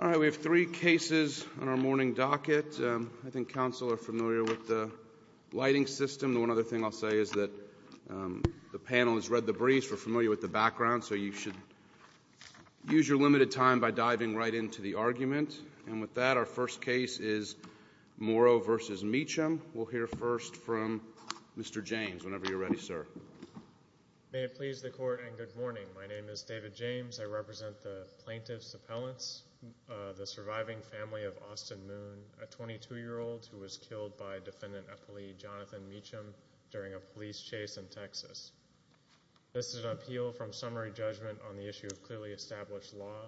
All right. We have three cases on our morning docket. I think council are familiar with the lighting system. The one other thing I'll say is that the panel has read the briefs, we're familiar with the background, so you should use your limited time by diving right into the argument. And with that, our first case is Morrow v. Meacham. We'll hear first from Mr. James, whenever you're ready, sir. May it please the court and good morning. My name is David James. I represent the plaintiff's appellants, the surviving family of Austin Moon, a 22-year-old who was killed by defendant-appellee Jonathan Meacham during a police chase in Texas. This is an appeal from summary judgment on the issue of clearly established law.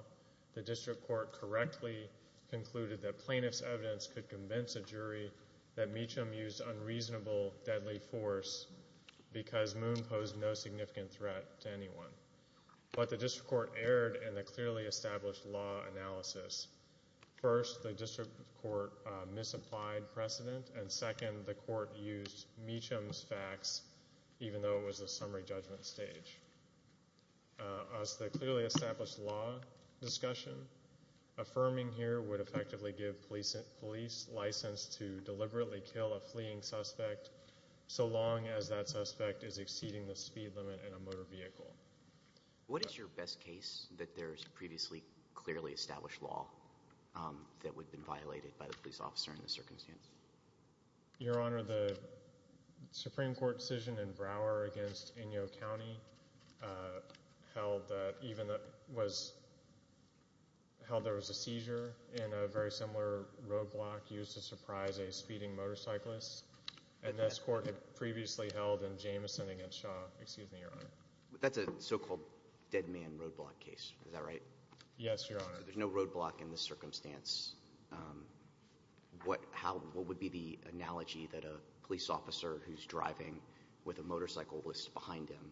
The district court correctly concluded that plaintiff's evidence could convince a jury that Meacham used unreasonable, deadly force because Moon posed no significant threat to anyone. But the district court erred in the clearly established law analysis. First, the district court misapplied precedent, and second, the court used Meacham's facts, even though it was a summary judgment stage. As to the clearly established law discussion, affirming here would effectively give police license to deliberately kill a fleeing suspect so long as that suspect is exceeding the speed limit in a motor vehicle. What is your best case that there is previously clearly established law that would have been violated by the police officer in this circumstance? Your Honor, the Supreme Court decision in Brouwer against Inyo County held that there was a seizure in a very similar roadblock used to surprise a speeding motorcyclist. And this court had previously held in Jameson against Shaw. Excuse me, Your Honor. That's a so-called dead man roadblock case. Is that right? Yes, Your Honor. So there's no roadblock in this circumstance. What would be the analogy that a police officer who's driving with a motorcycle list behind him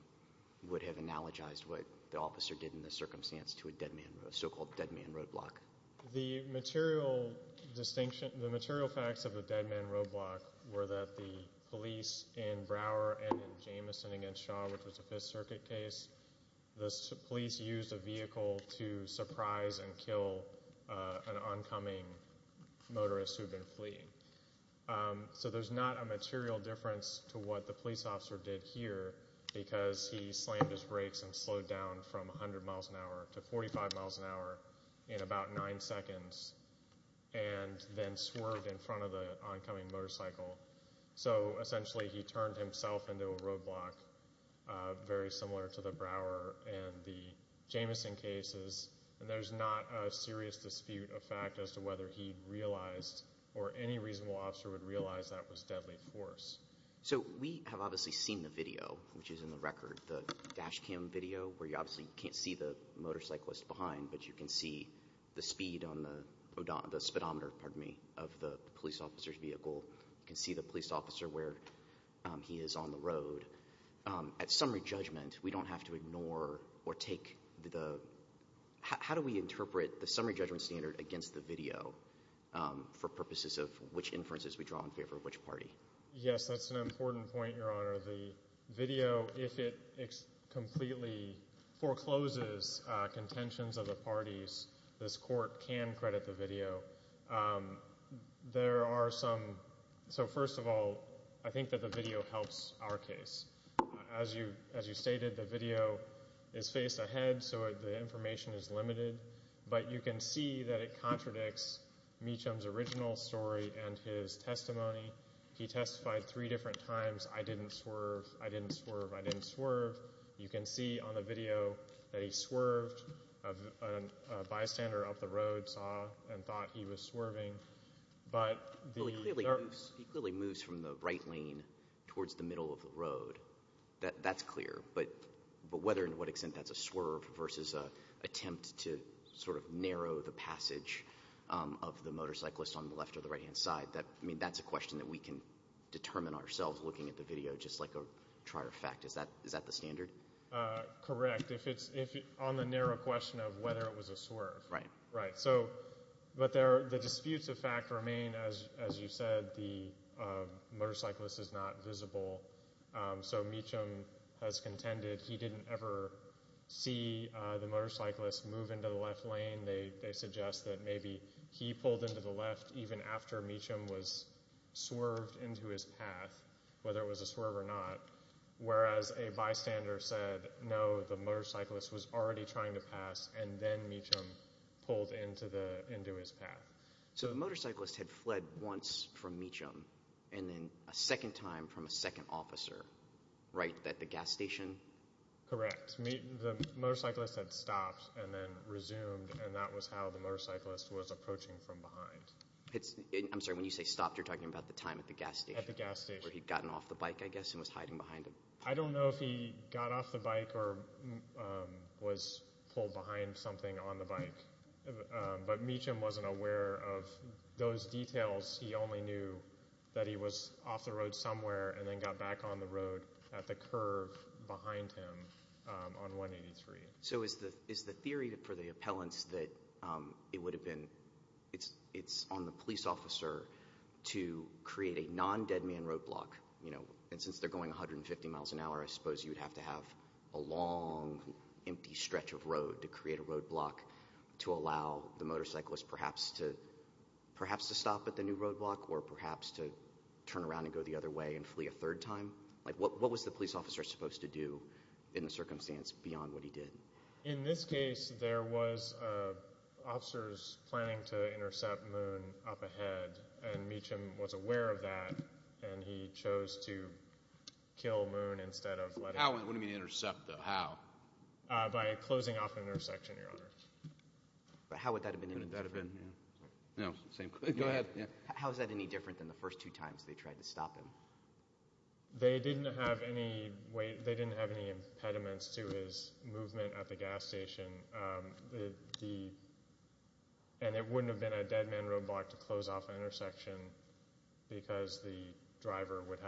would have analogized what the officer did in this circumstance to a so-called dead man roadblock? The material facts of the dead man roadblock were that the police in Brouwer and in Jameson against Shaw, which was a Fifth Circuit case, the police used a vehicle to surprise and kill an oncoming motorist who had been fleeing. So there's not a material difference to what the police officer did here because he slammed his brakes and slowed down from 100 miles an hour to 45 miles an hour in about nine seconds and then swerved in front of the oncoming motorcycle. So essentially he turned himself into a roadblock very similar to the Brouwer and the Jameson cases. And there's not a serious dispute of fact as to whether he realized or any reasonable officer would realize that was deadly force. So we have obviously seen the video, which is in the record, the dash cam video where you obviously can't see the motorcyclist behind, but you can see the speed on the speedometer of the police officer's vehicle. You can see the police officer where he is on the road. At summary judgment, we don't have to ignore or take the – how do we interpret the summary judgment standard against the video for purposes of which inferences we draw in favor of which party? Yes, that's an important point, Your Honor. The video, if it completely forecloses contentions of the parties, this court can credit the video. There are some – so first of all, I think that the video helps our case. As you stated, the video is face-to-head, so the information is limited. But you can see that it contradicts Meacham's original story and his testimony. He testified three different times, I didn't swerve, I didn't swerve, I didn't swerve. You can see on the video that he swerved. A bystander up the road saw and thought he was swerving. He clearly moves from the right lane towards the middle of the road. That's clear. But whether and to what extent that's a swerve versus an attempt to sort of narrow the passage of the motorcyclist on the left or the right-hand side, that's a question that we can determine ourselves looking at the video just like a trier fact. Is that the standard? Correct. If it's on the narrow question of whether it was a swerve. Right. But the disputes of fact remain, as you said, the motorcyclist is not visible. So Meacham has contended he didn't ever see the motorcyclist move into the left lane. They suggest that maybe he pulled into the left even after Meacham was swerved into his path, whether it was a swerve or not, whereas a bystander said no, the motorcyclist was already trying to pass and then Meacham pulled into his path. So the motorcyclist had fled once from Meacham and then a second time from a second officer, right, at the gas station? Correct. The motorcyclist had stopped and then resumed and that was how the motorcyclist was approaching from behind. I'm sorry, when you say stopped, you're talking about the time at the gas station. At the gas station. Where he'd gotten off the bike, I guess, and was hiding behind him. I don't know if he got off the bike or was pulled behind something on the bike, but Meacham wasn't aware of those details. He only knew that he was off the road somewhere and then got back on the road at the curve behind him on 183. So is the theory for the appellants that it's on the police officer to create a non-dead man roadblock? And since they're going 150 miles an hour, I suppose you'd have to have a long, empty stretch of road to create a roadblock to allow the motorcyclist perhaps to stop at the new roadblock or perhaps to turn around and go the other way and flee a third time? What was the police officer supposed to do in the circumstance beyond what he did? In this case, there was officers planning to intercept Moon up ahead and Meacham was aware of that and he chose to kill Moon instead of letting him. How? What do you mean intercept though? How? By closing off the intersection, Your Honor. But how would that have been any different? No, go ahead. How is that any different than the first two times they tried to stop him? They didn't have any impediments to his movement at the gas station. And it wouldn't have been a dead man roadblock to close off an intersection because the driver would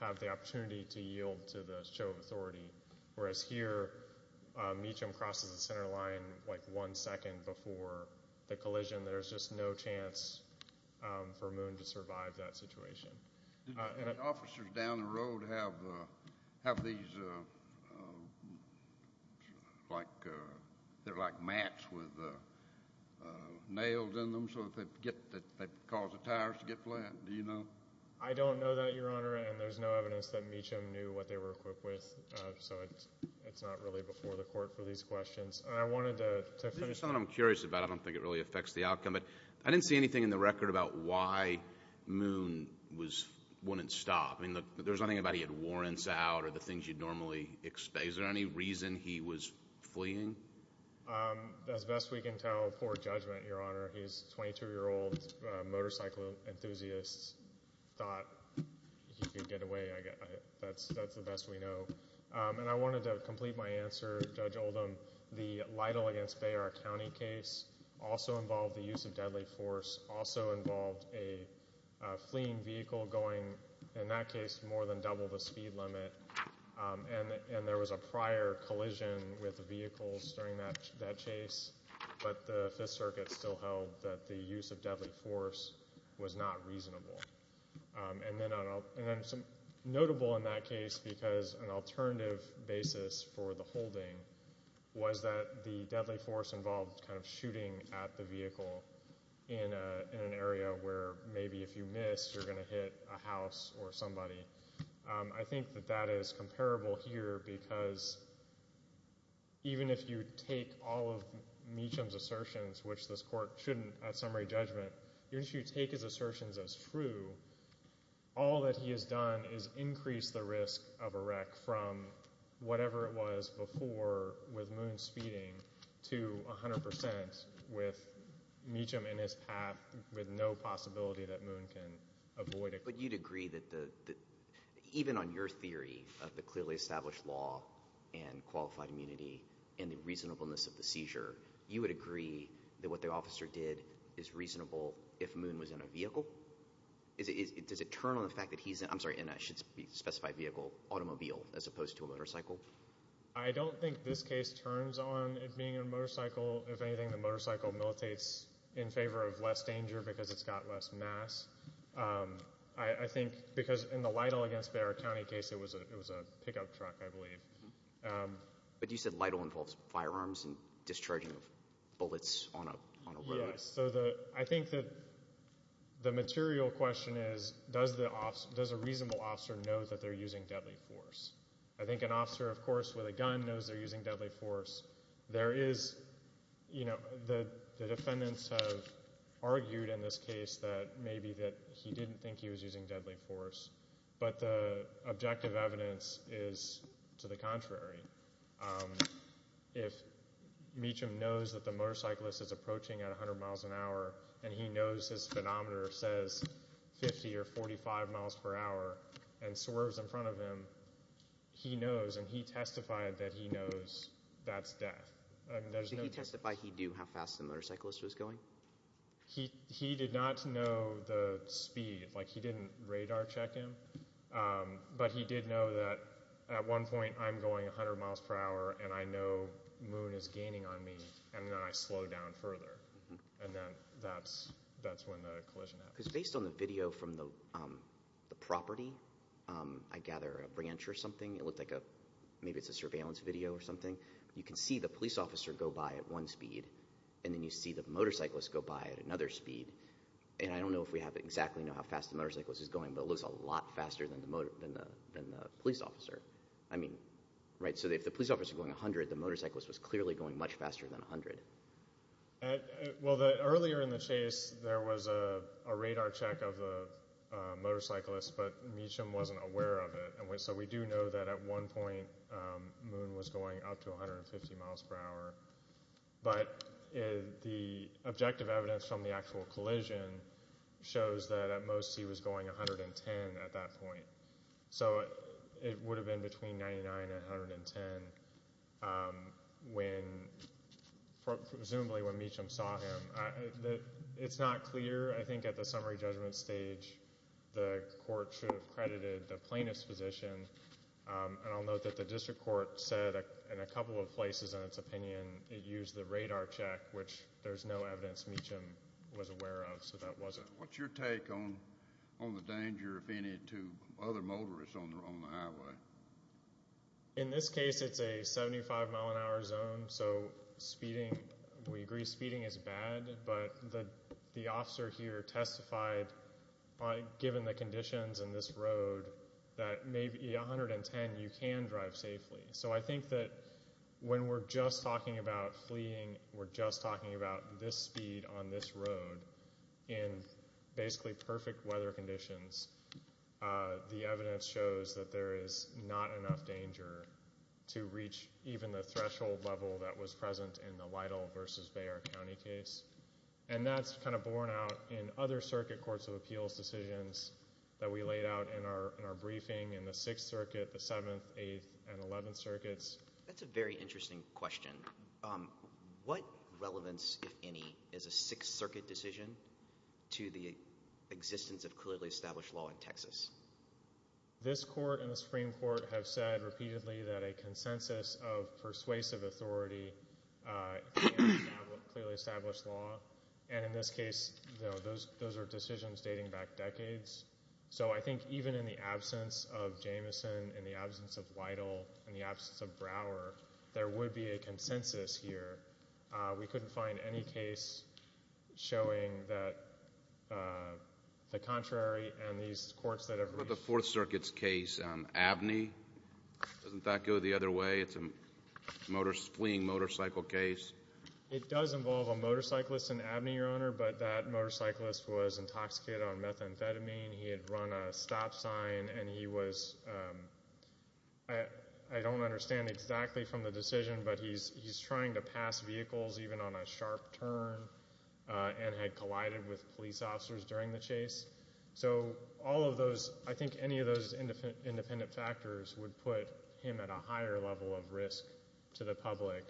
have the opportunity to yield to the show of authority. Whereas here, Meacham crosses the center line like one second before the collision. There's just no chance for Moon to survive that situation. Did the officers down the road have these like mats with nails in them so that they'd cause the tires to get flat? Do you know? I don't know that, Your Honor, and there's no evidence that Meacham knew what they were equipped with. So it's not really before the court for these questions. I wanted to finish. There's something I'm curious about. I don't think it really affects the outcome. But I didn't see anything in the record about why Moon wouldn't stop. I mean, there's nothing about he had warrants out or the things you'd normally expect. Is there any reason he was fleeing? As best we can tell, poor judgment, Your Honor. His 22-year-old motorcycle enthusiast thought he could get away. That's the best we know. And I wanted to complete my answer, Judge Oldham. The Lytle against Bayer County case also involved the use of deadly force, also involved a fleeing vehicle going, in that case, more than double the speed limit. And there was a prior collision with vehicles during that chase. But the Fifth Circuit still held that the use of deadly force was not reasonable. And then notable in that case, because an alternative basis for the holding, was that the deadly force involved kind of shooting at the vehicle in an area where maybe if you miss, you're going to hit a house or somebody. I think that that is comparable here because even if you take all of Meacham's assertions, which this court shouldn't at summary judgment, even if you take his assertions as true, all that he has done is increased the risk of a wreck from whatever it was before with Moon speeding to 100% with Meacham in his path with no possibility that Moon can avoid it. But you'd agree that even on your theory of the clearly established law and qualified immunity and the reasonableness of the seizure, you would agree that what the officer did is reasonable if Moon was in a vehicle? Does it turn on the fact that he's in a specified vehicle, automobile, as opposed to a motorcycle? I don't think this case turns on it being a motorcycle. If anything, the motorcycle militates in favor of less danger because it's got less mass. I think because in the Lytle against Bexar County case, it was a pickup truck, I believe. But you said Lytle involves firearms and discharging of bullets on a road? Yes. So I think that the material question is, does a reasonable officer know that they're using deadly force? I think an officer, of course, with a gun knows they're using deadly force. There is, you know, the defendants have argued in this case that maybe that he didn't think he was using deadly force. But the objective evidence is to the contrary. If Meacham knows that the motorcyclist is approaching at 100 miles an hour and he knows his speedometer says 50 or 45 miles per hour and swerves in front of him, he knows and he testified that he knows that's death. Does he testify he knew how fast the motorcyclist was going? He did not know the speed. Like he didn't radar check him, but he did know that at one point I'm going 100 miles per hour and I know moon is gaining on me and then I slow down further. And then that's when the collision happened. Because based on the video from the property, I gather a branch or something, it looked like maybe it's a surveillance video or something. You can see the police officer go by at one speed and then you see the motorcyclist go by at another speed. And I don't know if we have exactly how fast the motorcyclist is going, but it looks a lot faster than the police officer. I mean, right, so if the police officer is going 100, the motorcyclist was clearly going much faster than 100. Well, earlier in the chase there was a radar check of the motorcyclist, but Meacham wasn't aware of it. So we do know that at one point moon was going up to 150 miles per hour. But the objective evidence from the actual collision shows that at most he was going 110 at that point. So it would have been between 99 and 110 when presumably when Meacham saw him. It's not clear. I think at the summary judgment stage the court should have credited the plaintiff's position. And I'll note that the district court said in a couple of places in its opinion it used the radar check, which there's no evidence Meacham was aware of, so that wasn't. What's your take on the danger, if any, to other motorists on the highway? In this case it's a 75 mile an hour zone, so speeding, we agree speeding is bad. But the officer here testified, given the conditions on this road, that maybe 110 you can drive safely. So I think that when we're just talking about fleeing, we're just talking about this speed on this road in basically perfect weather conditions, the evidence shows that there is not enough danger to reach even the threshold level that was present in the Lytle v. Bexar County case. And that's kind of borne out in other circuit courts of appeals decisions that we laid out in our briefing, in the Sixth Circuit, the Seventh, Eighth, and Eleventh Circuits. That's a very interesting question. What relevance, if any, is a Sixth Circuit decision to the existence of clearly established law in Texas? This Court and the Supreme Court have said repeatedly that a consensus of persuasive authority clearly established law, and in this case those are decisions dating back decades. So I think even in the absence of Jameson, in the absence of Lytle, in the absence of Brower, there would be a consensus here. We couldn't find any case showing that the contrary, and these courts that have reached What about the Fourth Circuit's case, Abney? Doesn't that go the other way? It's a fleeing motorcycle case. It does involve a motorcyclist in Abney, Your Honor, but that motorcyclist was intoxicated on methamphetamine. He had run a stop sign, and he was, I don't understand exactly from the decision, but he's trying to pass vehicles even on a sharp turn and had collided with police officers during the chase. So all of those, I think any of those independent factors would put him at a higher level of risk to the public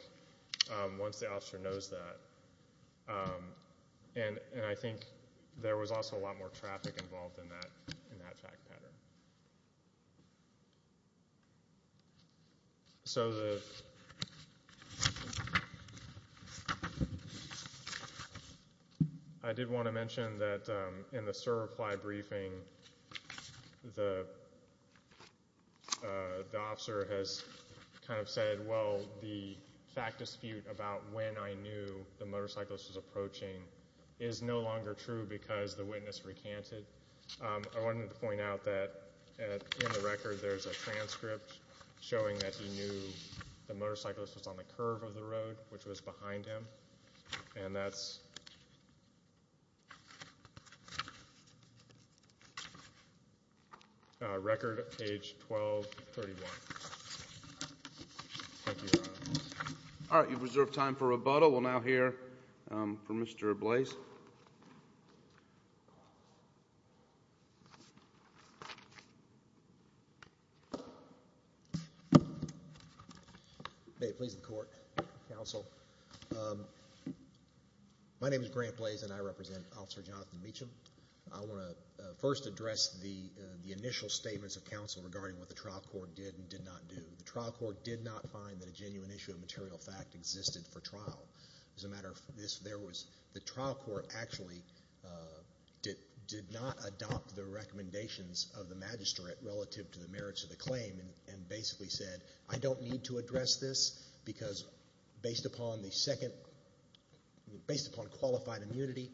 once the officer knows that. And I think there was also a lot more traffic involved in that fact pattern. So I did want to mention that in the CER reply briefing, the officer has kind of said, well, the fact dispute about when I knew the motorcyclist was approaching is no longer true because the witness recanted. I wanted to point out that in the record there's a transcript showing that he knew the motorcyclist was on the curve of the road, which was behind him, and that's record page 1231. All right, you've reserved time for rebuttal. We'll now hear from Mr. Blaise. May it please the Court, Counsel. My name is Grant Blaise, and I represent Officer Jonathan Meacham. I want to first address the initial statements of counsel regarding what the trial court did and did not do. The trial court did not find that a genuine issue of material fact existed for trial. As a matter of fact, the trial court actually did not adopt the recommendations of the magistrate relative to the merits of the claim and basically said, I don't need to address this because based upon qualified immunity,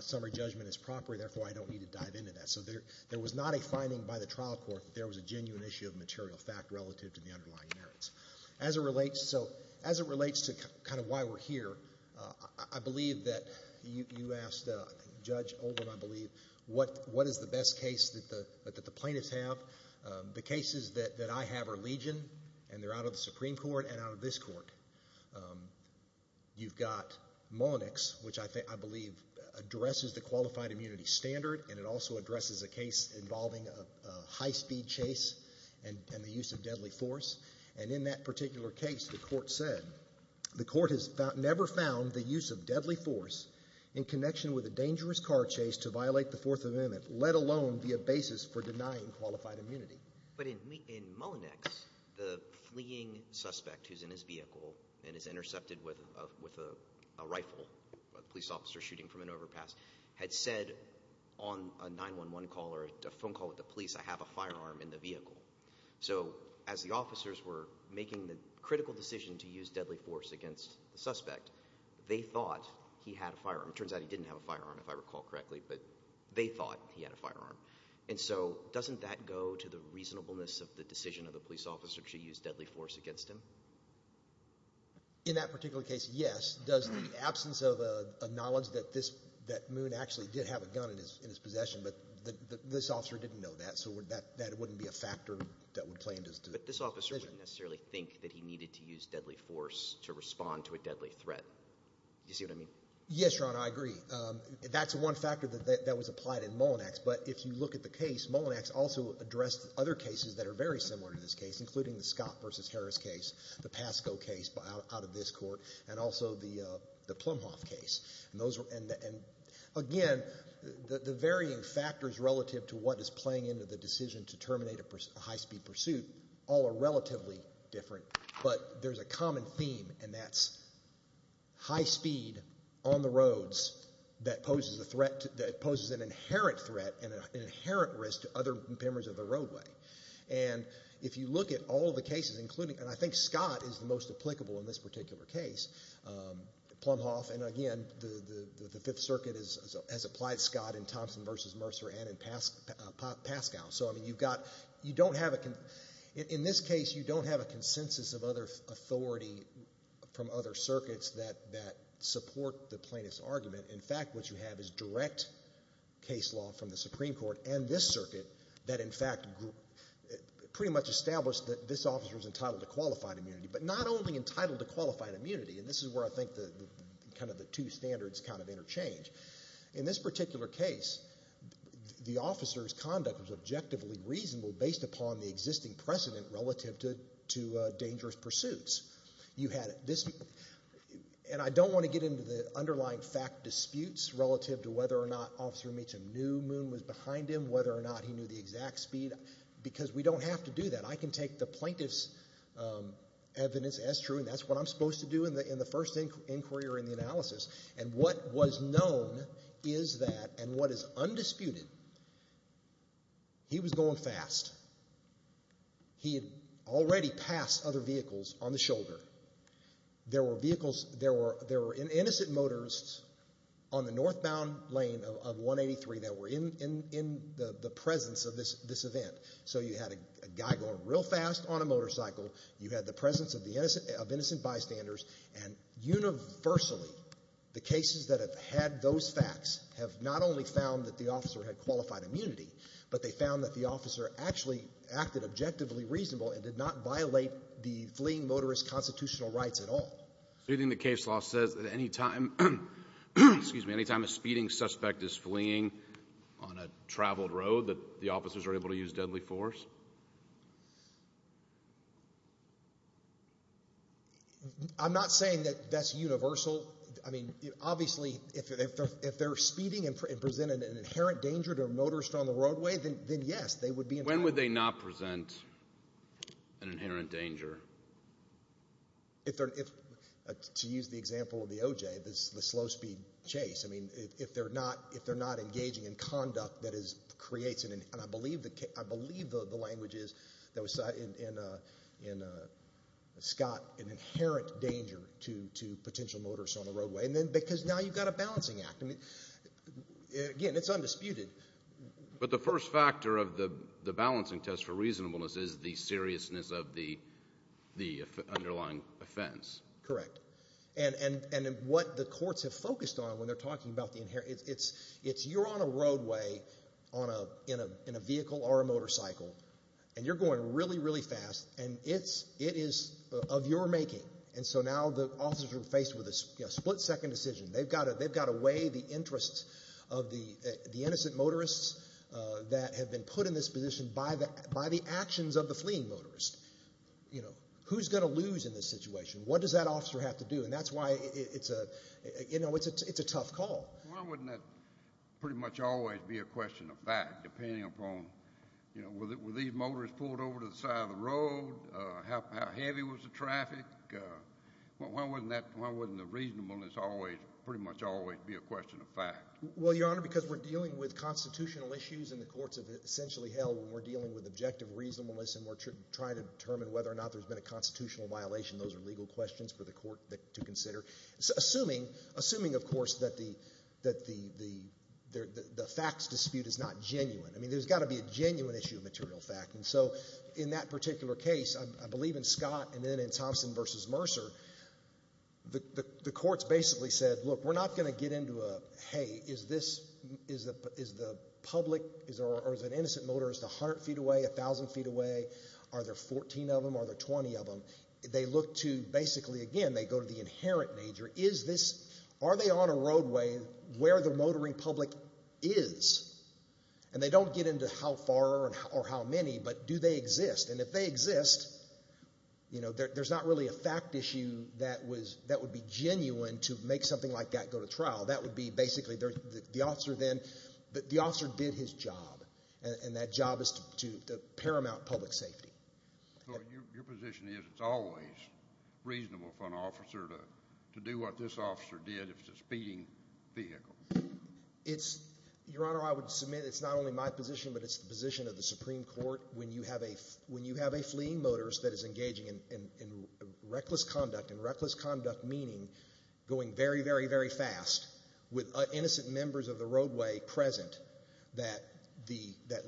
summary judgment is proper, therefore I don't need to dive into that. So there was not a finding by the trial court that there was a genuine issue of material fact relative to the underlying merits. As it relates to kind of why we're here, I believe that you asked Judge Oldham, I believe, what is the best case that the plaintiffs have. The cases that I have are Legion, and they're out of the Supreme Court and out of this court. You've got Mullenix, which I believe addresses the qualified immunity standard, and it also addresses a case involving a high-speed chase and the use of deadly force. And in that particular case, the court said the court has never found the use of deadly force in connection with a dangerous car chase to violate the Fourth Amendment, let alone be a basis for denying qualified immunity. But in Mullenix, the fleeing suspect who's in his vehicle and is intercepted with a rifle, a police officer shooting from an overpass, had said on a 911 call or a phone call with the police, I have a firearm in the vehicle. So as the officers were making the critical decision to use deadly force against the suspect, they thought he had a firearm. It turns out he didn't have a firearm, if I recall correctly, but they thought he had a firearm. And so doesn't that go to the reasonableness of the decision of the police officer to use deadly force against him? In that particular case, yes. Does the absence of a knowledge that Moon actually did have a gun in his possession, but this officer didn't know that, so that wouldn't be a factor that would play into his decision. But this officer wouldn't necessarily think that he needed to use deadly force to respond to a deadly threat. Do you see what I mean? Yes, Ron, I agree. That's one factor that was applied in Mullinax. But if you look at the case, Mullinax also addressed other cases that are very similar to this case, including the Scott v. Harris case, the Pasco case out of this court, and also the Plumhoff case. And, again, the varying factors relative to what is playing into the decision to terminate a high-speed pursuit all are relatively different. But there's a common theme, and that's high speed on the roads that poses an inherent threat and an inherent risk to other members of the roadway. And if you look at all the cases, including, and I think Scott is the most applicable in this particular case, Plumhoff, and, again, the Fifth Circuit has applied Scott in Thompson v. Mercer and in Pascal. So, I mean, you've got, you don't have, in this case, you don't have a consensus of other authority from other circuits that support the plaintiff's argument. In fact, what you have is direct case law from the Supreme Court and this circuit that, in fact, pretty much established that this officer was entitled to qualified immunity, but not only entitled to qualified immunity, and this is where I think kind of the two standards kind of interchange. In this particular case, the officer's conduct was objectively reasonable based upon the existing precedent relative to dangerous pursuits. You had this, and I don't want to get into the underlying fact disputes relative to whether or not Officer Meacham knew Moon was behind him, whether or not he knew the exact speed, because we don't have to do that. I can take the plaintiff's evidence as true, and that's what I'm supposed to do in the first inquiry or in the analysis. And what was known is that, and what is undisputed, he was going fast. He had already passed other vehicles on the shoulder. There were vehicles, there were innocent motorists on the northbound lane of 183 that were in the presence of this event. So you had a guy going real fast on a motorcycle, you had the presence of innocent bystanders, and universally the cases that have had those facts have not only found that the officer had qualified immunity, but they found that the officer actually acted objectively reasonable and did not violate the fleeing motorist constitutional rights at all. So you think the case law says that any time, excuse me, any time a speeding suspect is fleeing on a traveled road that the officers are able to use deadly force? I'm not saying that that's universal. I mean, obviously if they're speeding and present an inherent danger to a motorist on the roadway, then yes, they would be in danger. When would they not present an inherent danger? To use the example of the OJ, the slow speed chase. I mean, if they're not engaging in conduct that creates, and I believe the language is in Scott, an inherent danger to potential motorists on the roadway, because now you've got a balancing act. Again, it's undisputed. But the first factor of the balancing test for reasonableness is the seriousness of the underlying offense. Correct. And what the courts have focused on when they're talking about the inherent, it's you're on a roadway in a vehicle or a motorcycle, and you're going really, really fast, and it is of your making. And so now the officers are faced with a split-second decision. They've got to weigh the interests of the innocent motorists that have been put in this position by the actions of the fleeing motorist. Who's going to lose in this situation? What does that officer have to do? And that's why it's a tough call. Why wouldn't that pretty much always be a question of fact, depending upon were these motorists pulled over to the side of the road? How heavy was the traffic? Why wouldn't the reasonableness pretty much always be a question of fact? Well, Your Honor, because we're dealing with constitutional issues, and the courts have essentially held when we're dealing with objective reasonableness and we're trying to determine whether or not there's been a constitutional violation, those are legal questions for the court to consider. Assuming, of course, that the facts dispute is not genuine. I mean, there's got to be a genuine issue of material fact. And so in that particular case, I believe in Scott and then in Thompson v. Mercer, the courts basically said, look, we're not going to get into a, hey, is the public or the innocent motorist 100 feet away, 1,000 feet away? Are there 14 of them? Are there 20 of them? They look to basically, again, they go to the inherent nature. Are they on a roadway where the motoring public is? And they don't get into how far or how many, but do they exist? And if they exist, you know, there's not really a fact issue that would be genuine to make something like that go to trial. That would be basically the officer then, the officer did his job, and that job is to paramount public safety. So your position is it's always reasonable for an officer to do what this officer did if it's a speeding vehicle? Your Honor, I would submit it's not only my position, but it's the position of the Supreme Court. When you have a fleeing motorist that is engaging in reckless conduct, and reckless conduct meaning going very, very, very fast, with innocent members of the roadway present, that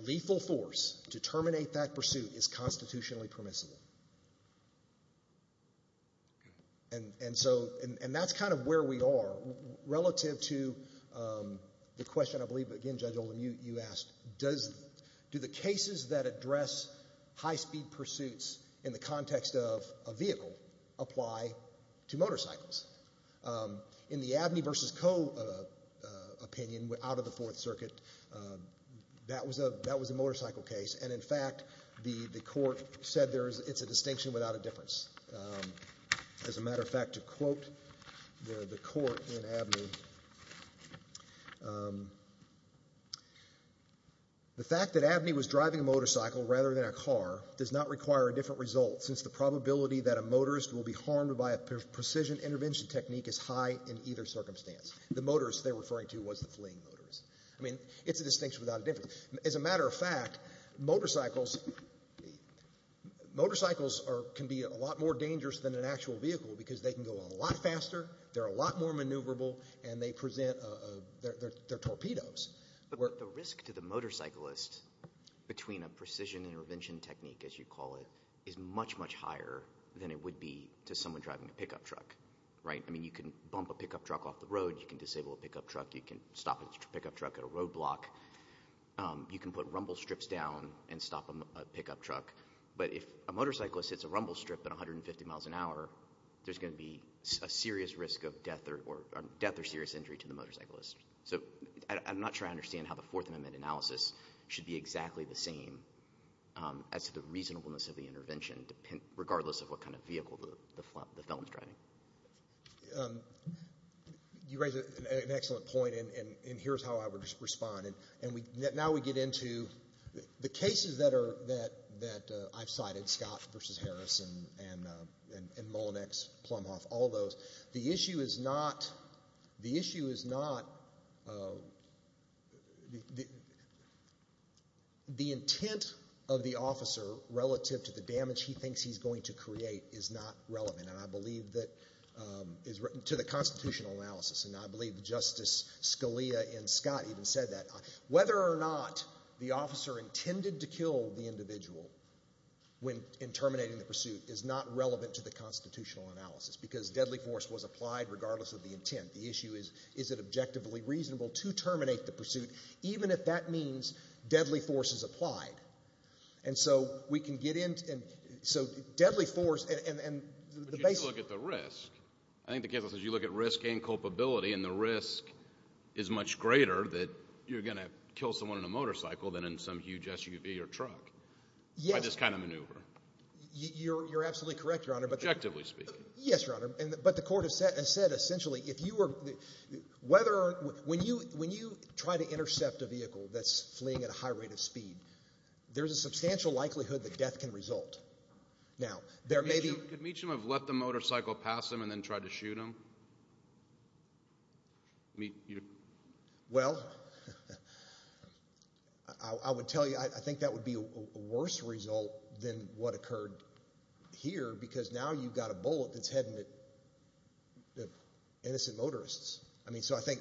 lethal force to terminate that pursuit is constitutionally permissible. And so that's kind of where we are. Relative to the question, I believe, again, Judge Olin, you asked, do the cases that address high-speed pursuits in the context of a vehicle apply to motorcycles? In the Abney v. Co. opinion out of the Fourth Circuit, that was a motorcycle case. And in fact, the court said it's a distinction without a difference. As a matter of fact, to quote the court in Abney, the fact that Abney was driving a motorcycle rather than a car does not require a different result, since the probability that a motorist will be harmed by a precision intervention technique is high in either circumstance. The motorist they're referring to was the fleeing motorist. I mean, it's a distinction without a difference. As a matter of fact, motorcycles can be a lot more dangerous than an actual vehicle because they can go a lot faster, they're a lot more maneuverable, and they present their torpedoes. But the risk to the motorcyclist between a precision intervention technique, as you call it, is much, much higher than it would be to someone driving a pickup truck, right? I mean, you can bump a pickup truck off the road, you can disable a pickup truck, you can stop a pickup truck at a roadblock, you can put rumble strips down and stop a pickup truck. But if a motorcyclist hits a rumble strip at 150 miles an hour, there's going to be a serious risk of death or serious injury to the motorcyclist. So I'm not sure I understand how the Fourth Amendment analysis should be exactly the same as to the reasonableness of the intervention, regardless of what kind of vehicle the felon's driving. You raise an excellent point, and here's how I would respond. Now we get into the cases that I've cited, Scott v. Harris and Mullinex, Plumhoff, all those. The issue is not the intent of the officer relative to the damage he thinks he's going to create is not relevant. And I believe that to the constitutional analysis, and I believe Justice Scalia in Scott even said that, whether or not the officer intended to kill the individual in terminating the pursuit is not relevant to the constitutional analysis, because deadly force was applied regardless of the intent. The issue is, is it objectively reasonable to terminate the pursuit, even if that means deadly force is applied? And so deadly force and the basic— But you have to look at the risk. I think the case also says you look at risk and culpability, and the risk is much greater that you're going to kill someone in a motorcycle than in some huge SUV or truck by this kind of maneuver. You're absolutely correct, Your Honor. Objectively speaking. Yes, Your Honor. But the court has said essentially if you were—when you try to intercept a vehicle that's fleeing at a high rate of speed, there's a substantial likelihood that death can result. Now, there may be— Could Meacham have left the motorcycle past him and then tried to shoot him? Well, I would tell you I think that would be a worse result than what occurred here, because now you've got a bullet that's heading at innocent motorists. I mean, so I think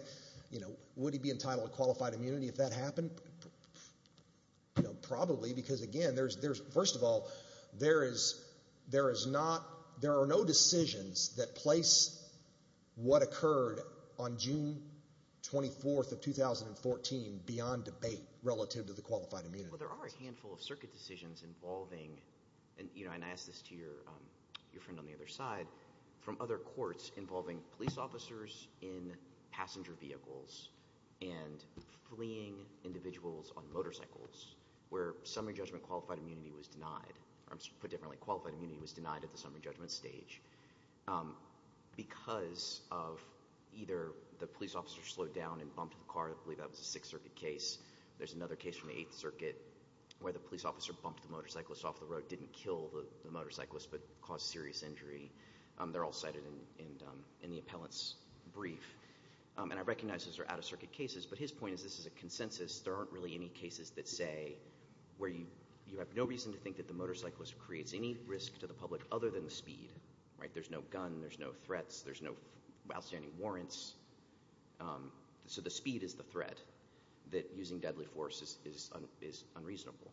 would he be entitled to qualified immunity if that happened? Probably, because, again, there's—first of all, there is not— there are no decisions that place what occurred on June 24th of 2014 beyond debate relative to the qualified immunity. Well, there are a handful of circuit decisions involving—and I ask this to your friend on the other side— from other courts involving police officers in passenger vehicles and fleeing individuals on motorcycles where summary judgment qualified immunity was denied. Or put differently, qualified immunity was denied at the summary judgment stage because of either the police officer slowed down and bumped the car. I believe that was a Sixth Circuit case. There's another case from the Eighth Circuit where the police officer bumped the motorcyclist off the road, didn't kill the motorcyclist, but caused serious injury. They're all cited in the appellant's brief. And I recognize those are out-of-circuit cases, but his point is this is a consensus. There aren't really any cases that say where you have no reason to think that the motorcyclist creates any risk to the public other than the speed, right? There's no gun. There's no threats. There's no outstanding warrants. So the speed is the threat, that using deadly force is unreasonable.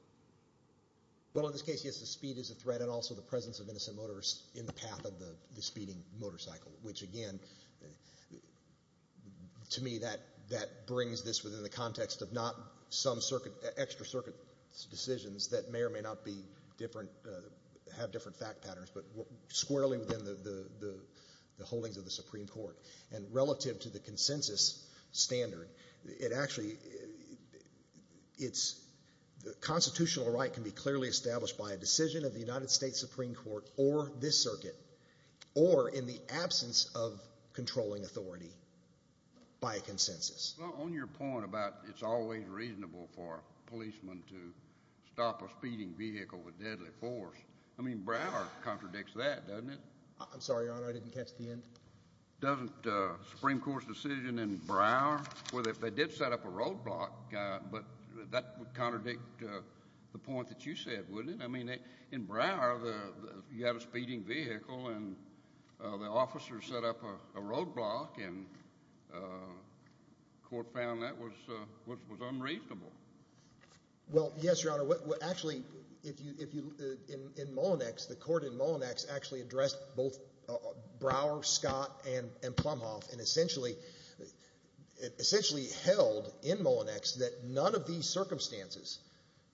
Well, in this case, yes, the speed is a threat and also the presence of innocent motorists in the path of the speeding motorcycle, which again, to me, that brings this within the context of not some extra circuit decisions that may or may not have different fact patterns, but squarely within the holdings of the Supreme Court. And relative to the consensus standard, it actually, the constitutional right can be clearly established by a decision of the United States Supreme Court or this circuit or in the absence of controlling authority by a consensus. Well, on your point about it's always reasonable for a policeman to stop a speeding vehicle with deadly force, I mean, Broward contradicts that, doesn't it? I'm sorry, Your Honor, I didn't catch the end. Doesn't the Supreme Court's decision in Broward, where they did set up a roadblock, but that would contradict the point that you said, wouldn't it? I mean, in Broward, you have a speeding vehicle and the officer set up a roadblock and the court found that was unreasonable. Well, yes, Your Honor. Actually, in Mullinex, the court in Mullinex actually addressed both Broward, Scott, and Plumhoff and essentially held in Mullinex that none of these circumstances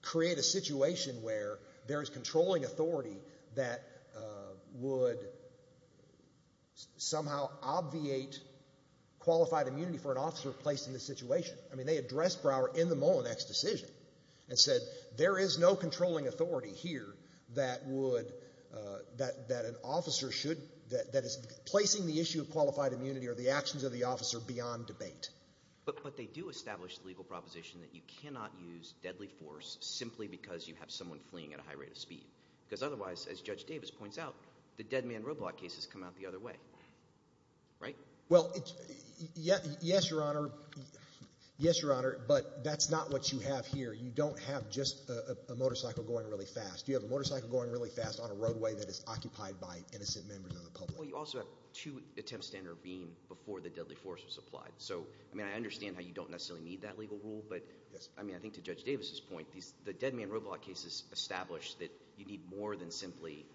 create a situation where there is controlling authority that would somehow obviate qualified immunity for an officer placed in this situation. I mean, they addressed Broward in the Mullinex decision and said there is no controlling authority here that would – that an officer should – that is placing the issue of qualified immunity or the actions of the officer beyond debate. But they do establish the legal proposition that you cannot use deadly force simply because you have someone fleeing at a high rate of speed. Because otherwise, as Judge Davis points out, the dead man roadblock case has come out the other way, right? Well, yes, Your Honor. Yes, Your Honor. But that's not what you have here. You don't have just a motorcycle going really fast. You have a motorcycle going really fast on a roadway that is occupied by innocent members of the public. Well, you also have two attempts to intervene before the deadly force was applied. So, I mean, I understand how you don't necessarily need that legal rule. But, I mean, I think to Judge Davis's point, the dead man roadblock case has established that you need more than simply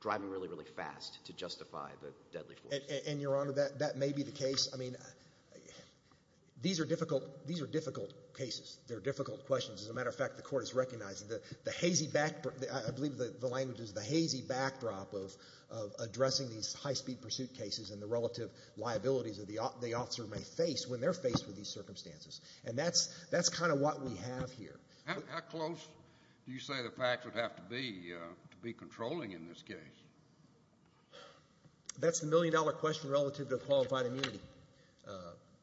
driving really, really fast to justify the deadly force. And, Your Honor, that may be the case. I mean, these are difficult cases. They're difficult questions. As a matter of fact, the Court has recognized that the hazy – I believe the language is the hazy backdrop of addressing these high-speed pursuit cases and the relative liabilities that the officer may face when they're faced with these circumstances. And that's kind of what we have here. How close do you say the facts would have to be to be controlling in this case? That's the million-dollar question relative to a qualified immunity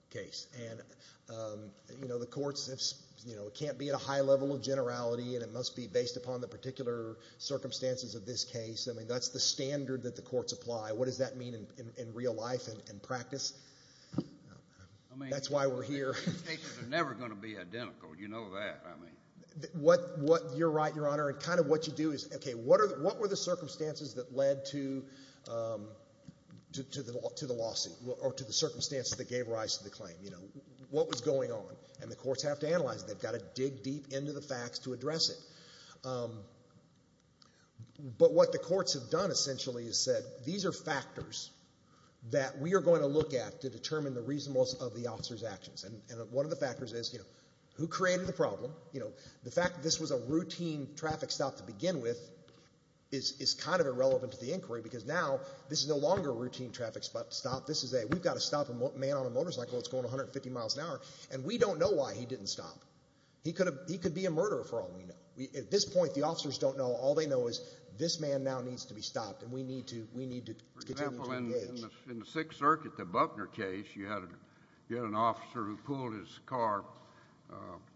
case. And, you know, the courts, you know, it can't be at a high level of generality, and it must be based upon the particular circumstances of this case. I mean, that's the standard that the courts apply. What does that mean in real life and practice? That's why we're here. I mean, these cases are never going to be identical. You know that, I mean. You're right, Your Honor. And kind of what you do is, okay, what were the circumstances that led to the lawsuit or to the circumstances that gave rise to the claim? You know, what was going on? And the courts have to analyze it. They've got to dig deep into the facts to address it. But what the courts have done essentially is said, these are factors that we are going to look at to determine the reasonableness of the officer's actions. And one of the factors is, you know, who created the problem? You know, the fact that this was a routine traffic stop to begin with is kind of irrelevant to the inquiry because now this is no longer a routine traffic stop. This is a, we've got to stop a man on a motorcycle that's going 150 miles an hour, and we don't know why he didn't stop. He could be a murderer for all we know. At this point, the officers don't know. All they know is this man now needs to be stopped, and we need to continue to engage. For example, in the Sixth Circuit, the Buckner case, you had an officer who pulled his car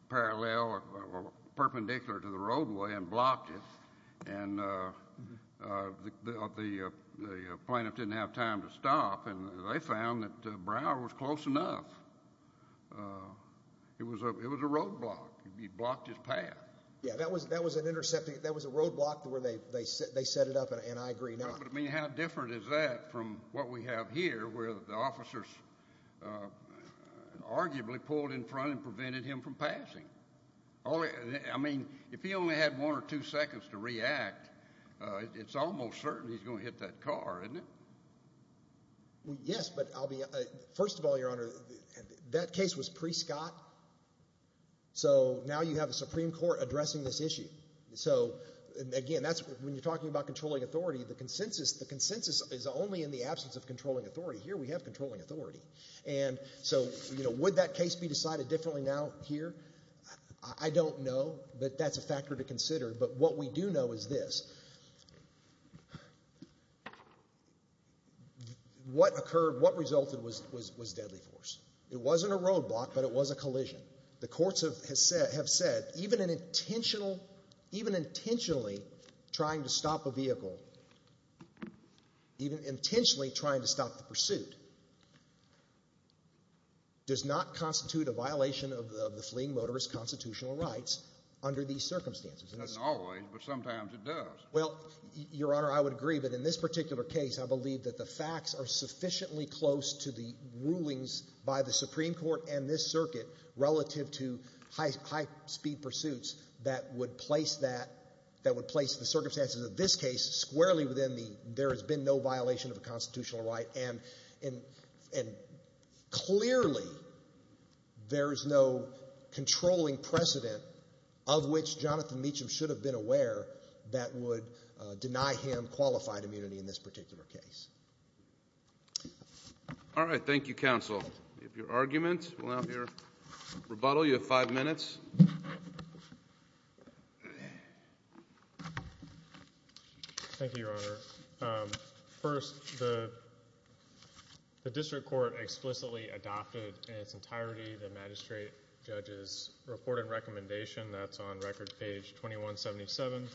parallel or perpendicular to the roadway and blocked it. And the plaintiff didn't have time to stop, and they found that Brower was close enough. It was a roadblock. He blocked his path. Yeah, that was an intercepting, that was a roadblock where they set it up, and I agree not. But, I mean, how different is that from what we have here where the officers arguably pulled in front and prevented him from passing? I mean, if he only had one or two seconds to react, it's almost certain he's going to hit that car, isn't it? Yes, but I'll be—first of all, Your Honor, that case was pre-Scott, so now you have a Supreme Court addressing this issue. So, again, when you're talking about controlling authority, the consensus is only in the absence of controlling authority. Here we have controlling authority. And so would that case be decided differently now here? I don't know, but that's a factor to consider. But what we do know is this. What occurred, what resulted was deadly force. It wasn't a roadblock, but it was a collision. The courts have said even an intentional, even intentionally trying to stop a vehicle, even intentionally trying to stop the pursuit, does not constitute a violation of the fleeing motorist constitutional rights under these circumstances. It doesn't always, but sometimes it does. Well, Your Honor, I would agree, but in this particular case, I believe that the facts are sufficiently close to the rulings by the Supreme Court and this circuit relative to high-speed pursuits that would place that, that would place the circumstances of this case squarely within the there has been no violation of a constitutional right. And clearly there is no controlling precedent of which Jonathan Meacham should have been aware that would deny him qualified immunity in this particular case. All right. Thank you, counsel. We have your argument. We'll have your rebuttal. You have five minutes. Thank you, Your Honor. First, the district court explicitly adopted in its entirety the magistrate judge's reporting recommendation. That's on record page 2177.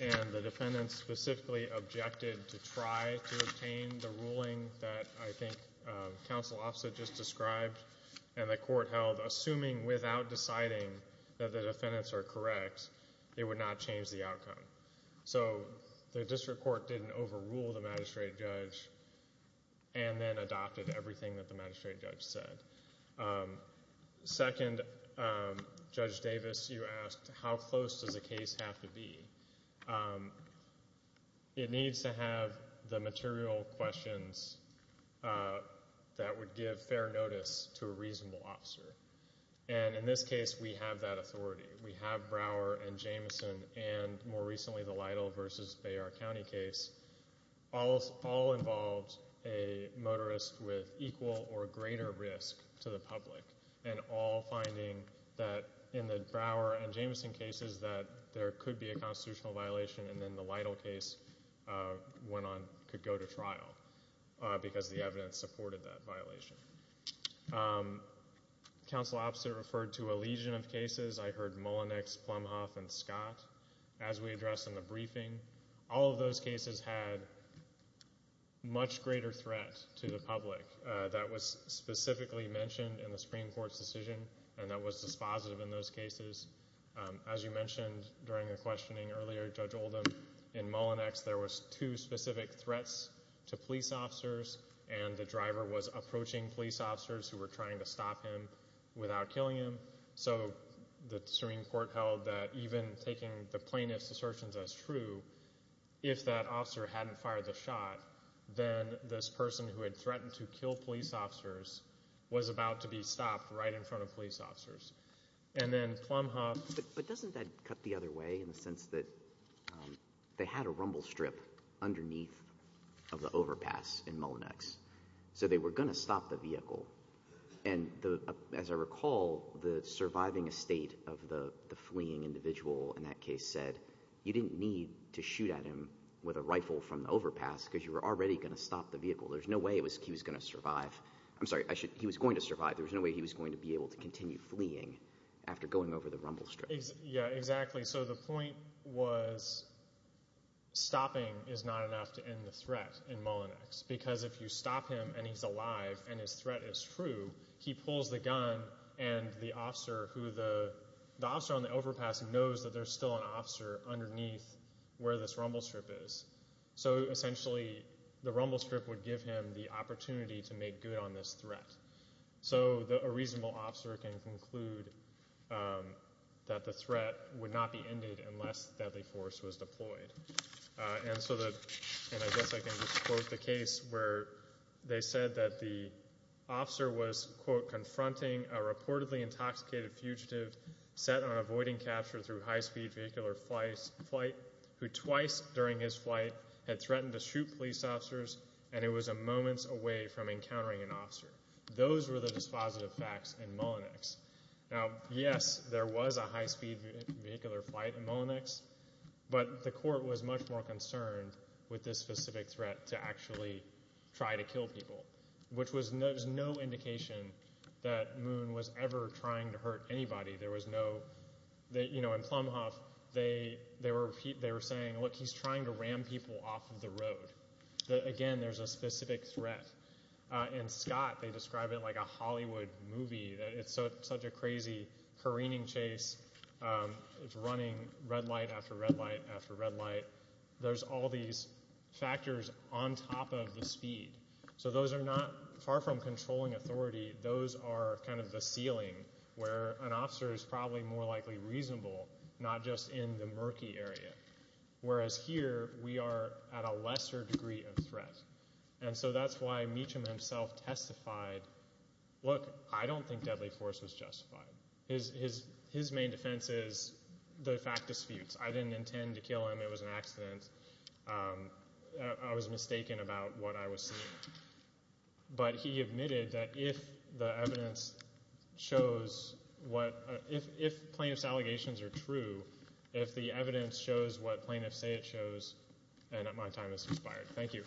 And the defendant specifically objected to try to obtain the ruling that I think counsel also just described. And the court held, assuming without deciding that the defendants are correct, it would not change the outcome. So the district court didn't overrule the magistrate judge and then adopted everything that the magistrate judge said. Second, Judge Davis, you asked how close does a case have to be. It needs to have the material questions that would give fair notice to a reasonable officer. And in this case we have that authority. We have Brower and Jameson and more recently the Lytle v. Bayard County case all involved a motorist with equal or greater risk to the public and all finding that in the Brower and Jameson cases that there could be a constitutional violation and then the Lytle case could go to trial because the evidence supported that violation. Counsel opposite referred to a legion of cases. I heard Mullenix, Plumhoff, and Scott as we addressed in the briefing. All of those cases had much greater threat to the public. That was specifically mentioned in the Supreme Court's decision and that was dispositive in those cases. As you mentioned during the questioning earlier, Judge Oldham, in Mullenix there were two specific threats to police officers and the driver was approaching police officers who were trying to stop him without killing him. So the Supreme Court held that even taking the plaintiff's assertions as true, if that officer hadn't fired the shot, then this person who had threatened to kill police officers was about to be stopped right in front of police officers. And then Plumhoff— But doesn't that cut the other way in the sense that they had a rumble strip underneath of the overpass in Mullenix, so they were going to stop the vehicle. And as I recall, the surviving estate of the fleeing individual in that case said that you didn't need to shoot at him with a rifle from the overpass because you were already going to stop the vehicle. There was no way he was going to survive. There was no way he was going to be able to continue fleeing after going over the rumble strip. Yeah, exactly. So the point was stopping is not enough to end the threat in Mullenix because if you stop him and he's alive and his threat is true, he pulls the gun and the officer on the overpass knows that there's still an officer underneath where this rumble strip is. So essentially the rumble strip would give him the opportunity to make good on this threat. So a reasonable officer can conclude that the threat would not be ended unless deadly force was deployed. And I guess I can just quote the case where they said that the officer was, quote, confronting a reportedly intoxicated fugitive set on avoiding capture through high-speed vehicular flight who twice during his flight had threatened to shoot police officers and it was moments away from encountering an officer. Those were the dispositive facts in Mullenix. Now, yes, there was a high-speed vehicular flight in Mullenix, but the court was much more concerned with this specific threat to actually try to kill people, which was no indication that Moon was ever trying to hurt anybody. In Plumhoff, they were saying, look, he's trying to ram people off of the road. Again, there's a specific threat. In Scott, they describe it like a Hollywood movie. It's such a crazy careening chase. It's running red light after red light after red light. There's all these factors on top of the speed. So those are not far from controlling authority. Those are kind of the ceiling where an officer is probably more likely reasonable, not just in the murky area, whereas here we are at a lesser degree of threat. And so that's why Meacham himself testified, look, I don't think deadly force was justified. His main defense is the fact disputes. I didn't intend to kill him. It was an accident. I was mistaken about what I was seeing. But he admitted that if the evidence shows what—if plaintiff's allegations are true, if the evidence shows what plaintiffs say it shows, then my time is expired. Thank you.